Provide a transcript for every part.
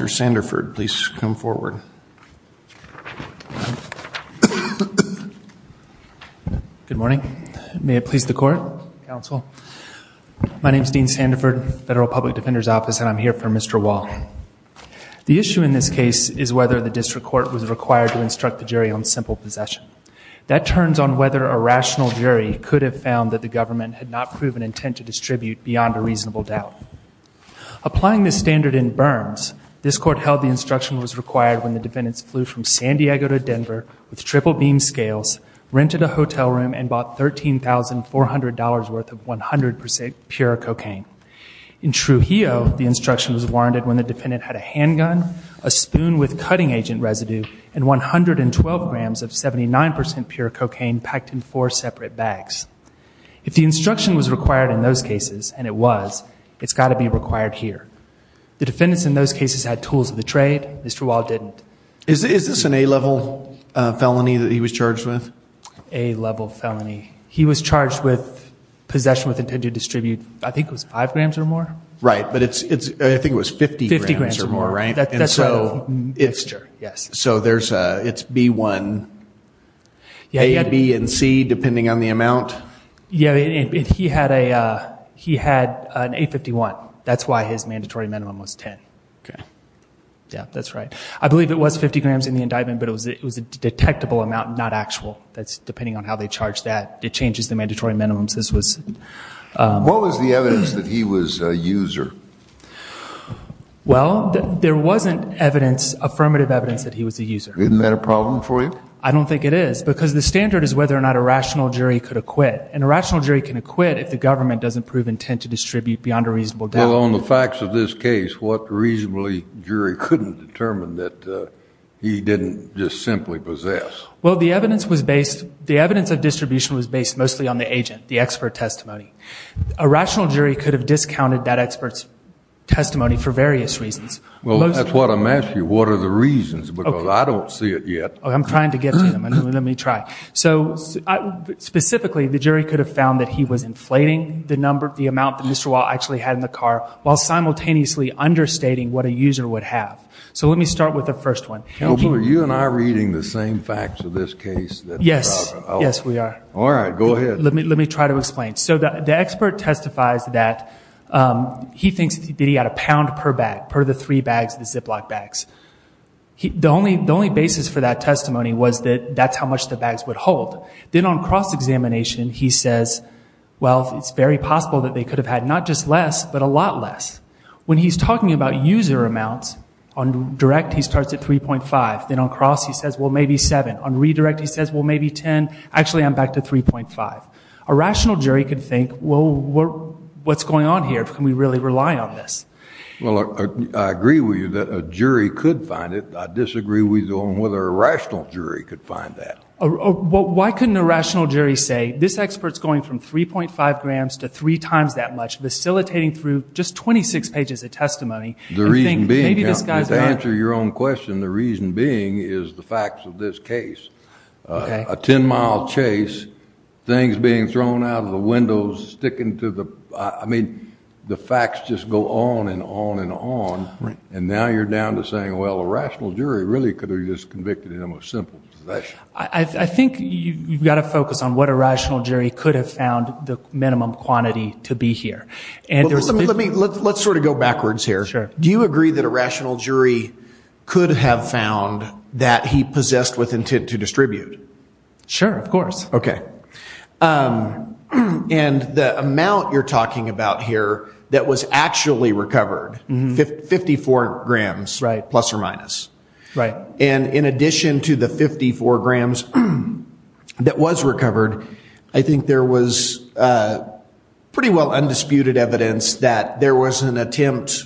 Mr. Sanderford, please come forward. Good morning. May it please the court, counsel. My name is Dean Sanderford, Federal Public Defender's Office, and I'm here for Mr. Waugh. The issue in this case is whether the district court was required to instruct the jury on simple possession. That turns on whether a rational jury could have found that the government had not proven intent to distribute beyond a reasonable doubt. Applying this standard in Burns, this court held the instruction was required when the defendants flew from San Diego to Denver with triple beam scales, rented a hotel room, and bought $13,400 worth of 100% pure cocaine. In Trujillo, the instruction was warranted when the defendant had a handgun, a spoon with cutting agent residue, and 112 grams of 79% pure cocaine packed in four separate bags. If the instruction was required in those cases, and it was, it's got to be required here. The defendants in those cases had tools of the trade. Mr. Waugh didn't. Is this an A-level felony that he was charged with? A-level felony. He was charged with possession with intent to distribute, I think it was five grams or more? Right, but it's, I think it was 50 grams or more, right? 50 grams or more. That's what the mixture, yes. So there's a, it's B-1, A, B, and C, depending on the amount? Yeah, he had a, he had an A-51. That's why his mandatory minimum was 10. Okay. Yeah, that's right. I believe it was 50 grams in the indictment, but it was a detectable amount, not actual. That's depending on how they charge that. It changes the mandatory minimums. This was. What was the evidence that he was a user? Well, there wasn't evidence, affirmative evidence that he was a user. Isn't that a problem for you? I don't think it is, because the standard is whether or not a rational jury could acquit, and a rational jury can acquit if the government doesn't prove intent to distribute beyond a reasonable doubt. Well, on the facts of this case, what reasonably jury couldn't determine that he didn't just simply possess? Well, the evidence was based, the evidence of distribution was based mostly on the agent, the expert testimony. A rational jury could have discounted that expert's testimony for various reasons. Well, that's what I'm asking. What are the reasons? Because I don't see it yet. I'm trying to get to them. Let me try. So, specifically, the jury could have found that he was inflating the number, the amount that Mr. Wall actually had in the car, while simultaneously understating what a user would have. So let me start with the first one. Are you and I reading the same facts of this case? Yes. Yes, we are. All right. Go ahead. Let me try to explain. So the expert testifies that he thinks that he had a pound per bag, per the three bags of the Ziploc bags. The only basis for that testimony was that that's how much the bags would hold. Then on cross-examination, he says, well, it's very possible that they could have had not just less, but a lot less. When he's talking about user amounts, on direct he starts at 3.5. Then on cross, he says, well, maybe 7. On redirect, he says, well, maybe 10. Actually, I'm back to 3.5. A rational jury could think, well, what's going on here? Can we really rely on this? Well, I agree with you that a jury could find it. I disagree with you on whether a rational jury could find that. Well, why couldn't a rational jury say, this expert's going from 3.5 grams to three times that much, facilitating through just 26 pages of testimony. The reason being, to answer your own question, the reason being is the facts of this case. A 10-mile chase, things being thrown out of the windows, sticking to the ‑‑ I mean, the facts just go on and on and on. And now you're down to saying, well, a rational jury really could have just convicted him of simple possession. I think you've got to focus on what a rational jury could have found the minimum quantity to be here. Let's sort of go backwards here. Do you agree that a rational jury could have found that he possessed with intent to distribute? Sure, of course. Okay. And the amount you're talking about here that was actually recovered, 54 grams, plus or minus. Right. And in addition to the 54 grams that was recovered, I think there was pretty well undisputed evidence that there was an attempt,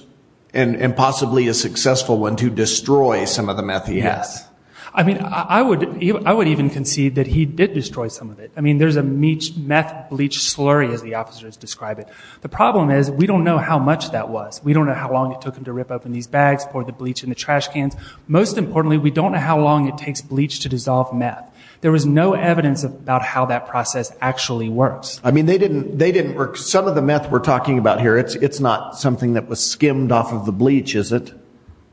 and possibly a successful one, to destroy some of the meth he had. Yes. I mean, I would even concede that he did destroy some of it. I mean, there's a meth bleach slurry, as the officers describe it. The problem is we don't know how much that was. We don't know how long it took him to rip open these bags, pour the bleach in the trash cans. Most importantly, we don't know how long it takes bleach to dissolve meth. There was no evidence about how that process actually works. I mean, they didn't work. Some of the meth we're talking about here, it's not something that was skimmed off of the bleach, is it?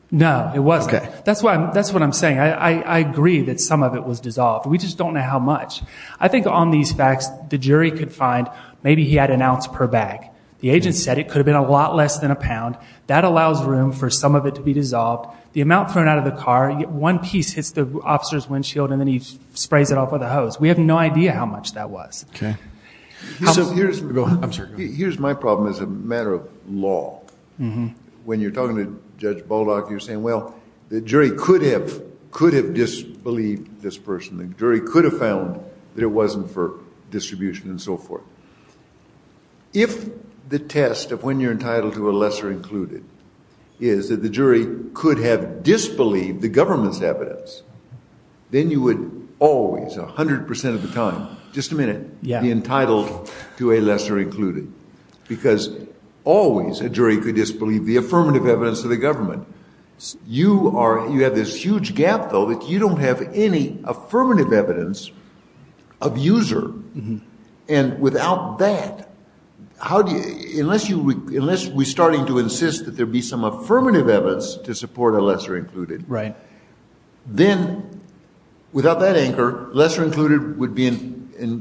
No, it wasn't. Okay. That's what I'm saying. I agree that some of it was dissolved. We just don't know how much. I think on these facts, the jury could find maybe he had an ounce per bag. The agent said it could have been a lot less than a pound. That allows room for some of it to be dissolved. The amount thrown out of the car, one piece hits the officer's windshield and then he sprays it off with a hose. We have no idea how much that was. Okay. Here's my problem as a matter of law. When you're talking to Judge Baldock, you're saying, well, the jury could have disbelieved this person. The jury could have found that it wasn't for distribution and so forth. If the test of when you're entitled to a lesser included is that the jury could have disbelieved the government's evidence, then you would always, 100% of the time, just a minute, be entitled to a lesser included. Because always a jury could disbelieve the affirmative evidence of the government. You have this huge gap, though, that you don't have any affirmative evidence of user. Without that, unless we're starting to insist that there be some affirmative evidence to support a lesser included, then without that anchor, lesser included,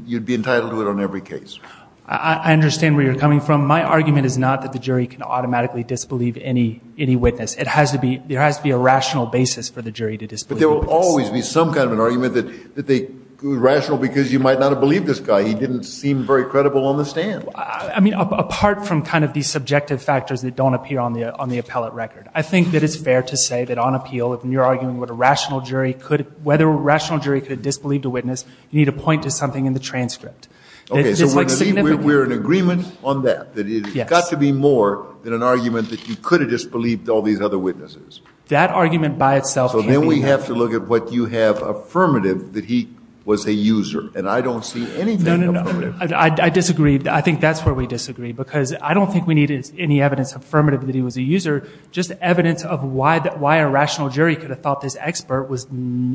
you'd be entitled to it on every case. I understand where you're coming from. My argument is not that the jury can automatically disbelieve any witness. There has to be a rational basis for the jury to disbelieve the witness. But there will always be some kind of an argument that they're rational because you might not have believed this guy. He didn't seem very credible on the stand. I mean, apart from kind of the subjective factors that don't appear on the appellate record, I think that it's fair to say that on appeal, when you're arguing whether a rational jury could have disbelieved a witness, you need to point to something in the transcript. Okay, so we're in agreement on that, that it's got to be more than an argument that you could have disbelieved all these other witnesses. That argument by itself can't be. So then we have to look at what you have affirmative, that he was a user. And I don't see anything affirmative. No, no, no. I disagree. I think that's where we disagree because I don't think we need any evidence affirmative that he was a user, just evidence of why a rational jury could have thought this expert,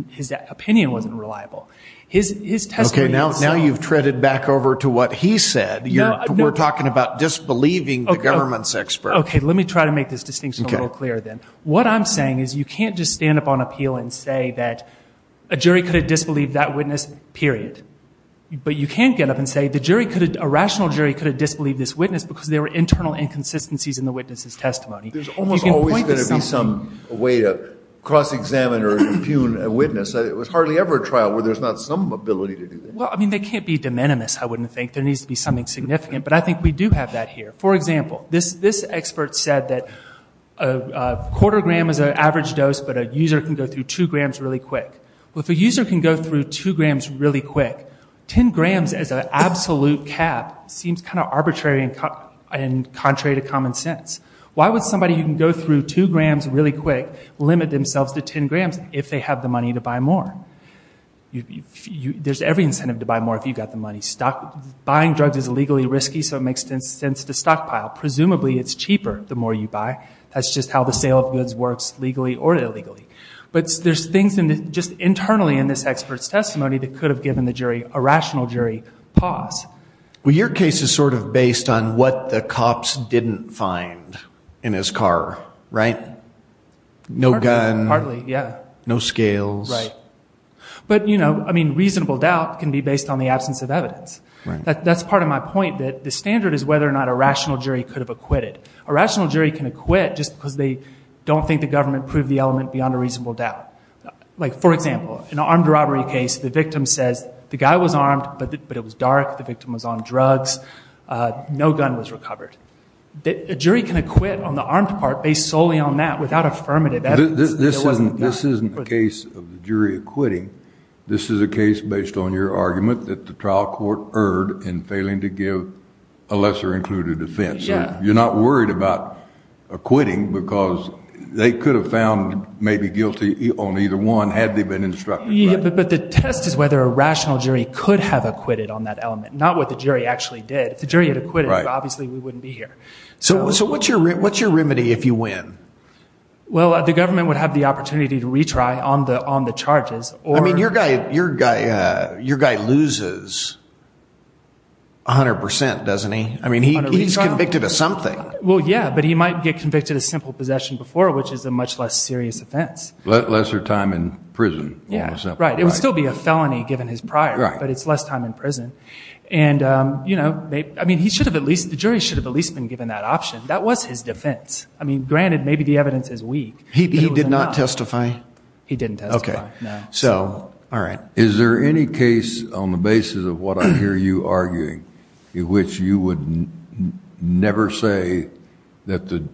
his opinion wasn't reliable. His testimony itself. Okay, now you've treaded back over to what he said. We're talking about disbelieving the government's expert. Okay, let me try to make this distinction a little clearer then. What I'm saying is you can't just stand up on appeal and say that a jury could have disbelieved that witness, period. But you can't get up and say a rational jury could have disbelieved this witness because there were internal inconsistencies in the witness's testimony. There's almost always going to be some way to cross-examine or impugn a witness. It was hardly ever a trial where there's not some ability to do that. Well, I mean, they can't be de minimis, I wouldn't think. There needs to be something significant. But I think we do have that here. For example, this expert said that a quarter gram is an average dose, but a user can go through 2 grams really quick. Well, if a user can go through 2 grams really quick, 10 grams as an absolute cap seems kind of arbitrary and contrary to common sense. Why would somebody who can go through 2 grams really quick limit themselves to 10 grams if they have the money to buy more? There's every incentive to buy more if you've got the money. Buying drugs is illegally risky, so it makes sense to stockpile. Presumably it's cheaper the more you buy. That's just how the sale of goods works, legally or illegally. But there's things just internally in this expert's testimony that could have given the jury, a rational jury, pause. Well, your case is sort of based on what the cops didn't find in his car, right? No gun. Hardly, yeah. No scales. Right. But, you know, I mean, reasonable doubt can be based on the absence of evidence. Right. That's part of my point, that the standard is whether or not a rational jury could have acquitted. A rational jury can acquit just because they don't think the government proved the element beyond a reasonable doubt. Like, for example, in an armed robbery case, the victim says the guy was armed, but it was dark, the victim was on drugs, no gun was recovered. A jury can acquit on the armed part based solely on that without affirmative evidence. This isn't a case of the jury acquitting. This is a case based on your argument that the trial court erred in failing to give a lesser included offense. So you're not worried about acquitting because they could have found maybe guilty on either one had they been instructed. But the test is whether a rational jury could have acquitted on that element, not what the jury actually did. If the jury had acquitted, obviously we wouldn't be here. So what's your remedy if you win? Well, the government would have the opportunity to retry on the charges. I mean, your guy loses 100 percent, doesn't he? I mean, he's convicted of something. Well, yeah, but he might get convicted of simple possession before, which is a much less serious offense. Lesser time in prison. Right. It would still be a felony given his prior, but it's less time in prison. And, you know, I mean, he should have at least, the jury should have at least been given that option. That was his defense. I mean, granted, maybe the evidence is weak. He did not testify? He didn't testify. Okay. So, all right. Is there any case on the basis of what I hear you arguing in which you would never say that the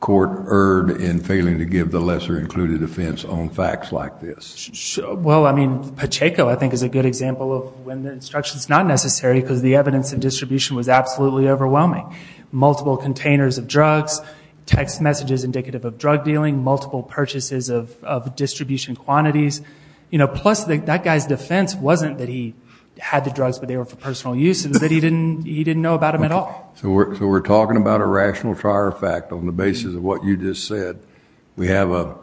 court erred in failing to give the lesser included offense on facts like this? Well, I mean, Pacheco, I think, is a good example of when the instruction is not necessary because the evidence and distribution was absolutely overwhelming. Multiple containers of drugs, text messages indicative of drug dealing, multiple purchases of distribution quantities. You know, plus that guy's defense wasn't that he had the drugs but they were for personal use. It was that he didn't know about them at all. So we're talking about a rational trial fact on the basis of what you just said. We have an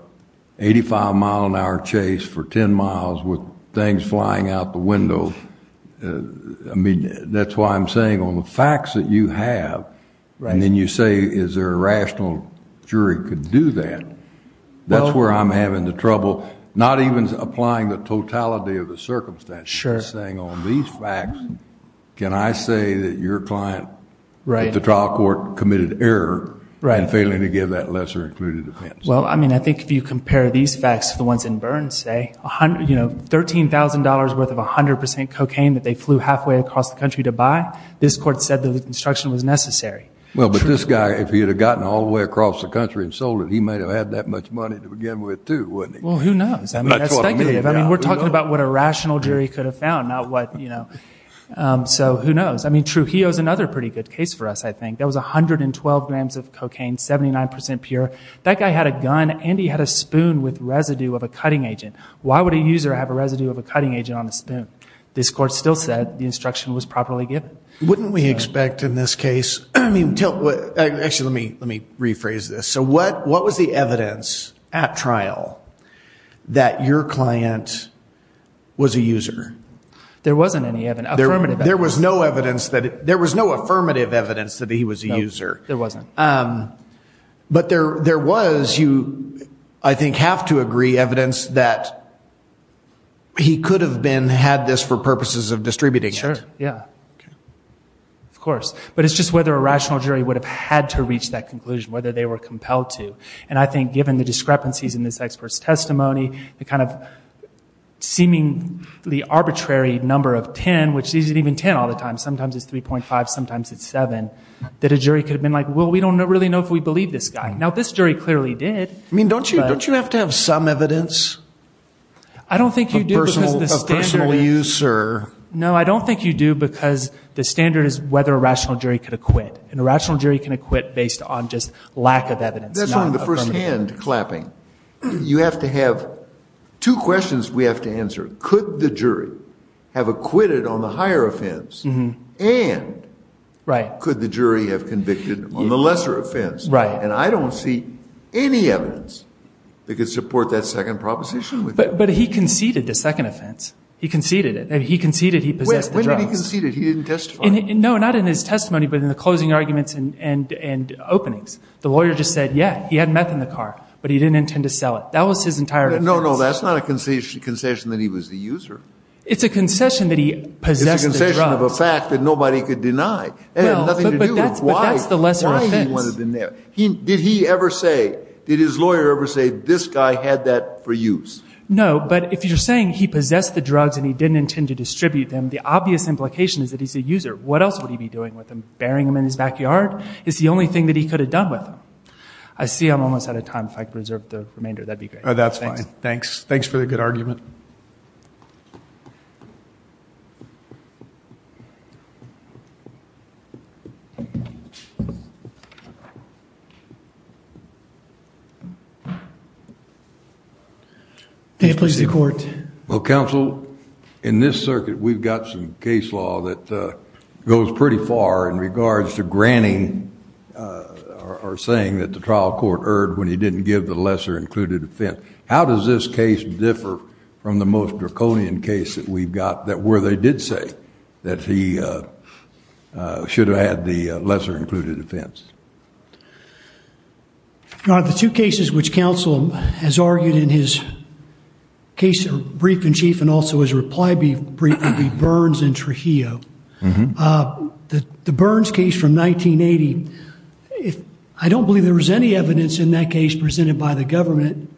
85-mile-an-hour chase for 10 miles with things flying out the window. I mean, that's why I'm saying on the facts that you have, and then you say is there a rational jury could do that, that's where I'm having the trouble. Not even applying the totality of the circumstances. Sure. Saying on these facts, can I say that your client at the trial court committed error in failing to give that lesser included offense? Well, I mean, I think if you compare these facts to the ones in Burns, say, you know, $13,000 worth of 100% cocaine that they flew halfway across the country to buy, this court said the instruction was necessary. Well, but this guy, if he had gotten all the way across the country and sold it, he might have had that much money to begin with, too, wouldn't he? Well, who knows? I mean, that's speculative. I mean, we're talking about what a rational jury could have found, not what, you know. So who knows? I mean, Trujillo's another pretty good case for us, I think. That was 112 grams of cocaine, 79% pure. That guy had a gun and he had a spoon with residue of a cutting agent. Why would a user have a residue of a cutting agent on a spoon? This court still said the instruction was properly given. Wouldn't we expect in this case – actually, let me rephrase this. So what was the evidence at trial that your client was a user? There wasn't any evidence, affirmative evidence. There was no affirmative evidence that he was a user. No, there wasn't. But there was, you, I think, have to agree, evidence that he could have had this for purposes of distributing it. Sure, yeah, of course. But it's just whether a rational jury would have had to reach that conclusion, whether they were compelled to. And I think given the discrepancies in this expert's testimony, the kind of seemingly arbitrary number of 10, which isn't even 10 all the time, sometimes it's 3.5, sometimes it's 7, that a jury could have been like, well, we don't really know if we believe this guy. Now, this jury clearly did. I mean, don't you have to have some evidence of personal use? No, I don't think you do because the standard is whether a rational jury could acquit. And a rational jury can acquit based on just lack of evidence, not affirmative. That's only the first hand clapping. You have to have two questions we have to answer. Could the jury have acquitted on the higher offense? And could the jury have convicted on the lesser offense? And I don't see any evidence that could support that second proposition. But he conceded the second offense. He conceded it. He conceded he possessed the drugs. When did he concede it? He didn't testify. No, not in his testimony, but in the closing arguments and openings. The lawyer just said, yeah, he had meth in the car, but he didn't intend to sell it. That was his entire defense. No, no, that's not a concession that he was the user. It's a concession that he possessed the drugs. It's a concession of a fact that nobody could deny. It had nothing to do with why he wanted the meth. Did he ever say, did his lawyer ever say, this guy had that for use? No, but if you're saying he possessed the drugs and he didn't intend to distribute them, the obvious implication is that he's a user. What else would he be doing with them? Burying them in his backyard is the only thing that he could have done with them. I see I'm almost out of time. If I could reserve the remainder, that would be great. That's fine. Thanks. Thanks for the good argument. May it please the Court. Well, Counsel, in this circuit we've got some case law that goes pretty far in regards to granting or saying that the trial court erred when he didn't give the lesser included offense. How does this case differ from the most draconian case that we've got, where they did say that he should have had the lesser included offense? The two cases which Counsel has argued in his brief in chief and also his reply brief would be Burns and Trujillo. The Burns case from 1980, I don't believe there was any evidence in that case presented by the government,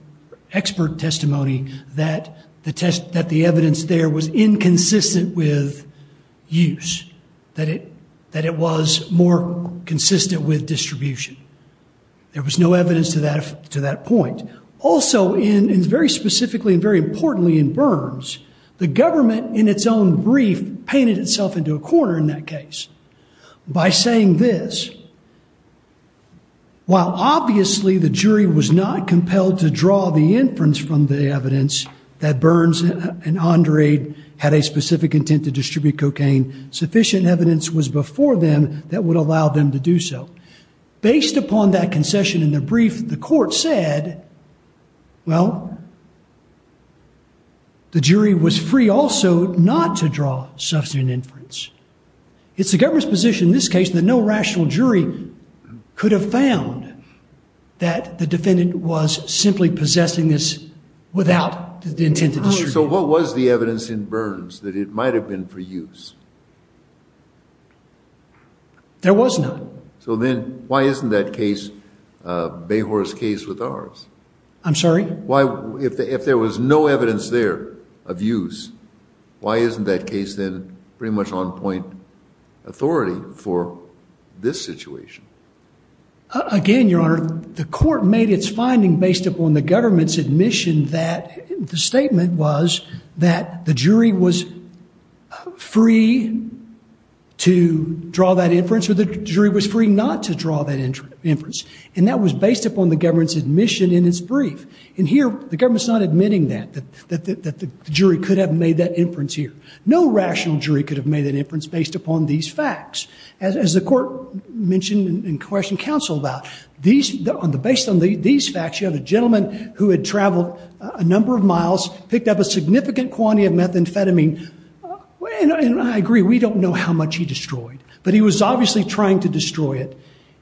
expert testimony, that the evidence there was inconsistent with use, that it was more consistent with distribution. There was no evidence to that point. Also, and very specifically and very importantly in Burns, the government in its own brief painted itself into a corner in that case. By saying this, while obviously the jury was not compelled to draw the inference from the evidence that Burns and Andre had a specific intent to distribute cocaine, sufficient evidence was before them that would allow them to do so. Based upon that concession in the brief, the court said, well, the jury was free also not to draw such an inference. It's the government's position in this case that no rational jury could have found that the defendant was simply possessing this without the intent to distribute it. So what was the evidence in Burns that it might have been for use? There was none. So then why isn't that case, Bayhors' case with ours? I'm sorry? If there was no evidence there of use, why isn't that case then pretty much on point authority for this situation? Again, Your Honor, the court made its finding based upon the government's admission that the statement was that the jury was free to draw that inference or the jury was free not to draw that inference. And that was based upon the government's admission in its brief. And here the government's not admitting that, that the jury could have made that inference here. No rational jury could have made that inference based upon these facts. As the court mentioned and questioned counsel about, based on these facts you have a gentleman who had traveled a number of miles, picked up a significant quantity of methamphetamine. And I agree, we don't know how much he destroyed. But he was obviously trying to destroy it.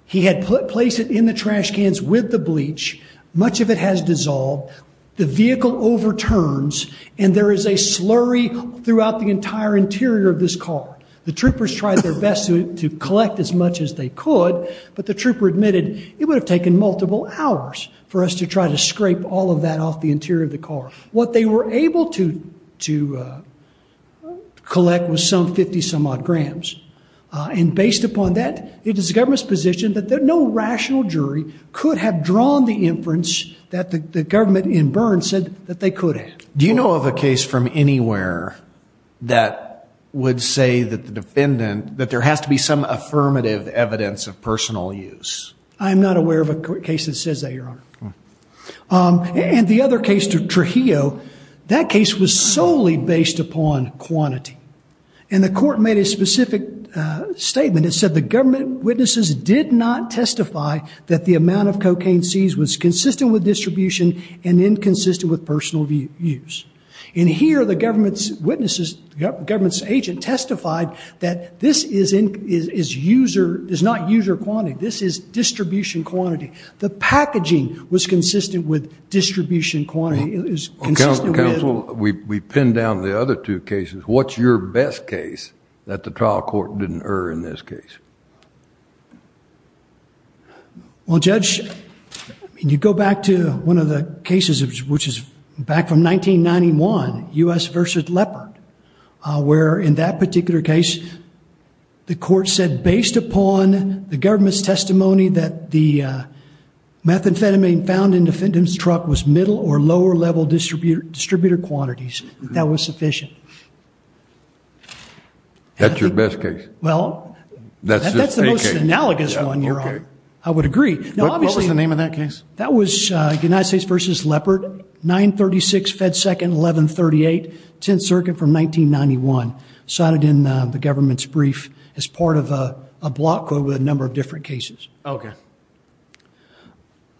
He had placed it in the trash cans with the bleach. Much of it has dissolved. The vehicle overturns. And there is a slurry throughout the entire interior of this car. The troopers tried their best to collect as much as they could. But the trooper admitted, it would have taken multiple hours for us to try to scrape all of that off the interior of the car. What they were able to collect was some 50-some-odd grams. And based upon that, it is the government's position that no rational jury could have drawn the inference that the government in Byrne said that they could have. Do you know of a case from anywhere that would say that the defendant, that there has to be some affirmative evidence of personal use? I am not aware of a case that says that, Your Honor. And the other case, Trujillo, that case was solely based upon quantity. And the court made a specific statement. And it said the government witnesses did not testify that the amount of cocaine seized was consistent with distribution and inconsistent with personal use. And here the government's witnesses, the government's agent, testified that this is not user quantity. This is distribution quantity. The packaging was consistent with distribution quantity. Counsel, we pinned down the other two cases. What's your best case that the trial court didn't err in this case? Well, Judge, you go back to one of the cases which is back from 1991, U.S. v. Leopard, where in that particular case, the court said based upon the government's testimony that the methamphetamine found in the defendant's truck was middle or lower level distributor quantities. That was sufficient. That's your best case? Well, that's the most analogous one, Your Honor. I would agree. What was the name of that case? That was United States v. Leopard, 936 Fed Second, 1138, 10th Circuit from 1991, cited in the government's brief as part of a block code with a number of different cases. Okay.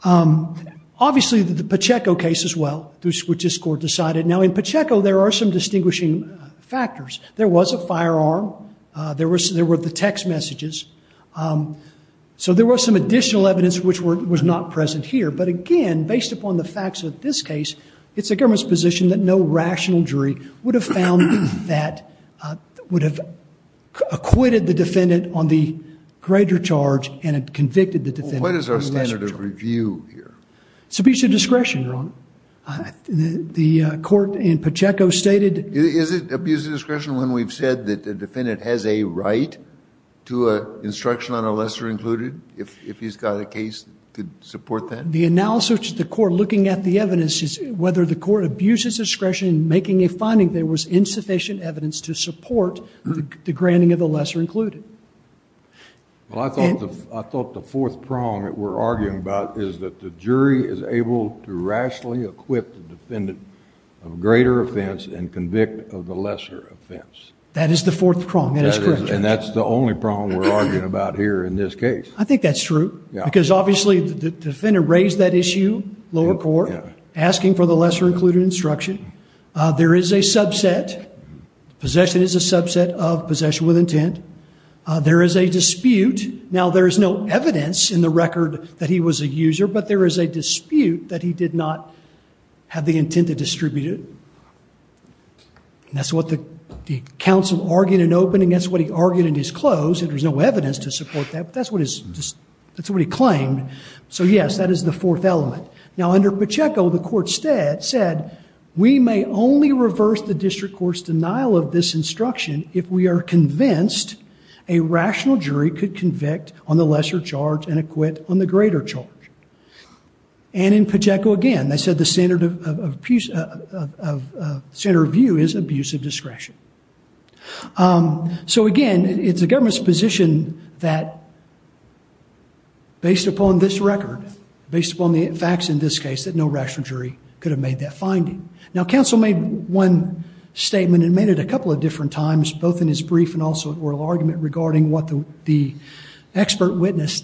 Obviously, the Pacheco case as well, which this court decided. Now, in Pacheco, there are some distinguishing factors. There was a firearm. There were the text messages. So there was some additional evidence which was not present here. But, again, based upon the facts of this case, it's the government's position that no rational jury would have found that would have acquitted the defendant on the greater charge and had convicted the defendant on the lesser charge. What is our standard of review here? Submission of discretion, Your Honor. The court in Pacheco stated. Is it abuse of discretion when we've said that the defendant has a right to instruction on a lesser included if he's got a case to support that? The analysis of the court looking at the evidence is whether the court abuses discretion in making a finding there was insufficient evidence to support the granting of the lesser included. Well, I thought the fourth prong that we're arguing about is that the jury is able to rationally equip the defendant of greater offense and convict of the lesser offense. That is the fourth prong. That is correct, Judge. And that's the only prong we're arguing about here in this case. I think that's true. Yeah. Because, obviously, the defendant raised that issue, lower court, asking for the lesser included instruction. Possession is a subset of possession with intent. There is a dispute. Now, there is no evidence in the record that he was a user, but there is a dispute that he did not have the intent to distribute it. And that's what the counsel argued in opening. That's what he argued in his close. There was no evidence to support that, but that's what he claimed. So, yes, that is the fourth element. Now, under Pacheco, the court said, we may only reverse the district court's denial of this instruction if we are convinced a rational jury could convict on the lesser charge and acquit on the greater charge. And in Pacheco, again, they said the standard of view is abuse of discretion. So, again, it's the government's position that, based upon this record, based upon the facts in this case, that no rational jury could have made that finding. Now, counsel made one statement and made it a couple of different times, both in his brief and also in oral argument regarding what the government's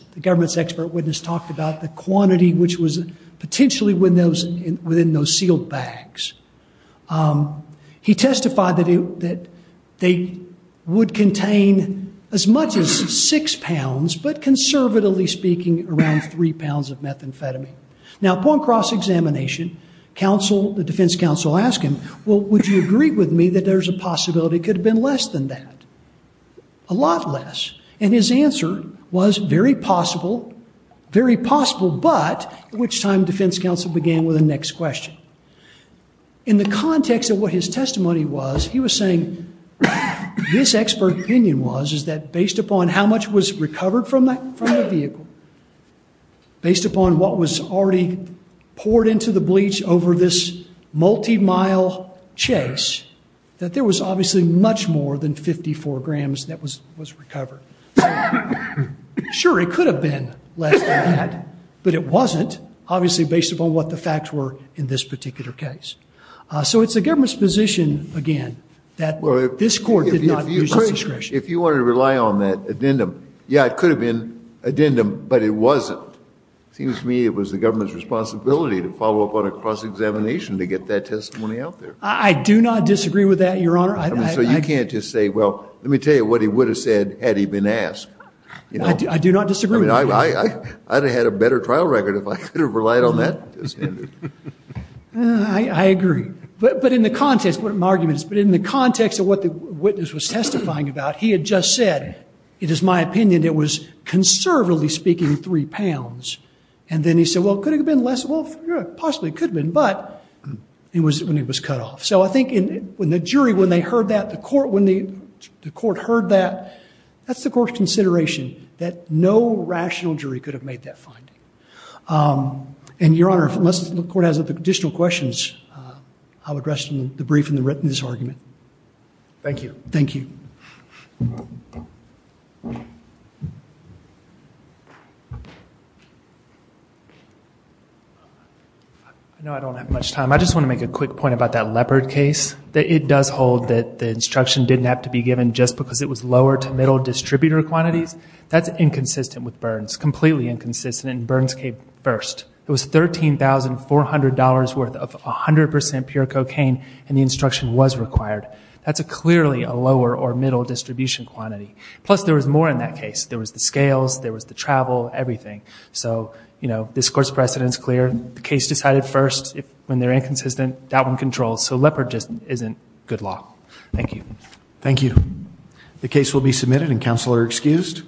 expert witness talked about, the quantity which was potentially within those sealed bags. He testified that they would contain as much as six pounds, but conservatively speaking, around three pounds of methamphetamine. Now, upon cross-examination, the defense counsel asked him, well, would you agree with me that there's a possibility it could have been less than that? A lot less. And his answer was very possible, very possible, but at which time defense counsel began with the next question. In the context of what his testimony was, he was saying this expert opinion was is that based upon how much was recovered from the vehicle, based upon what was already poured into the bleach over this multi-mile chase, that there was obviously much more than 54 grams that was recovered. Sure, it could have been less than that, but it wasn't, obviously based upon what the facts were in this particular case. So it's the government's position, again, that this court did not use its discretion. If you wanted to rely on that addendum, yeah, it could have been addendum, but it wasn't. It seems to me it was the government's responsibility to follow up on a cross-examination to get that testimony out there. I do not disagree with that, Your Honor. So you can't just say, well, let me tell you what he would have said had he been asked. I do not disagree with that. I'd have had a better trial record if I could have relied on that. I agree. But in the context of what the witness was testifying about, he had just said, it is my opinion it was, conservatively speaking, three pounds. And then he said, well, could it have been less? Well, possibly it could have been, but it was when he was cut off. So I think when the jury, when they heard that, when the court heard that, that's the court's consideration, that no rational jury could have made that finding. And, Your Honor, unless the court has additional questions, I'll address the brief in this argument. Thank you. Thank you. I know I don't have much time. I just want to make a quick point about that Leopard case. It does hold that the instruction didn't have to be given just because it was lower to middle distributor quantities. That's inconsistent with Burns, completely inconsistent, and Burns came first. It was $13,400 worth of 100% pure cocaine, and the instruction was required. That's clearly a lower or middle distribution quantity. Plus, there was more in that case. There was the scales, there was the travel, everything. So, you know, this court's precedent is clear. The case decided first, when they're inconsistent, that one controls. So Leopard just isn't good law. Thank you. Thank you. The case will be submitted, and counsel are excused.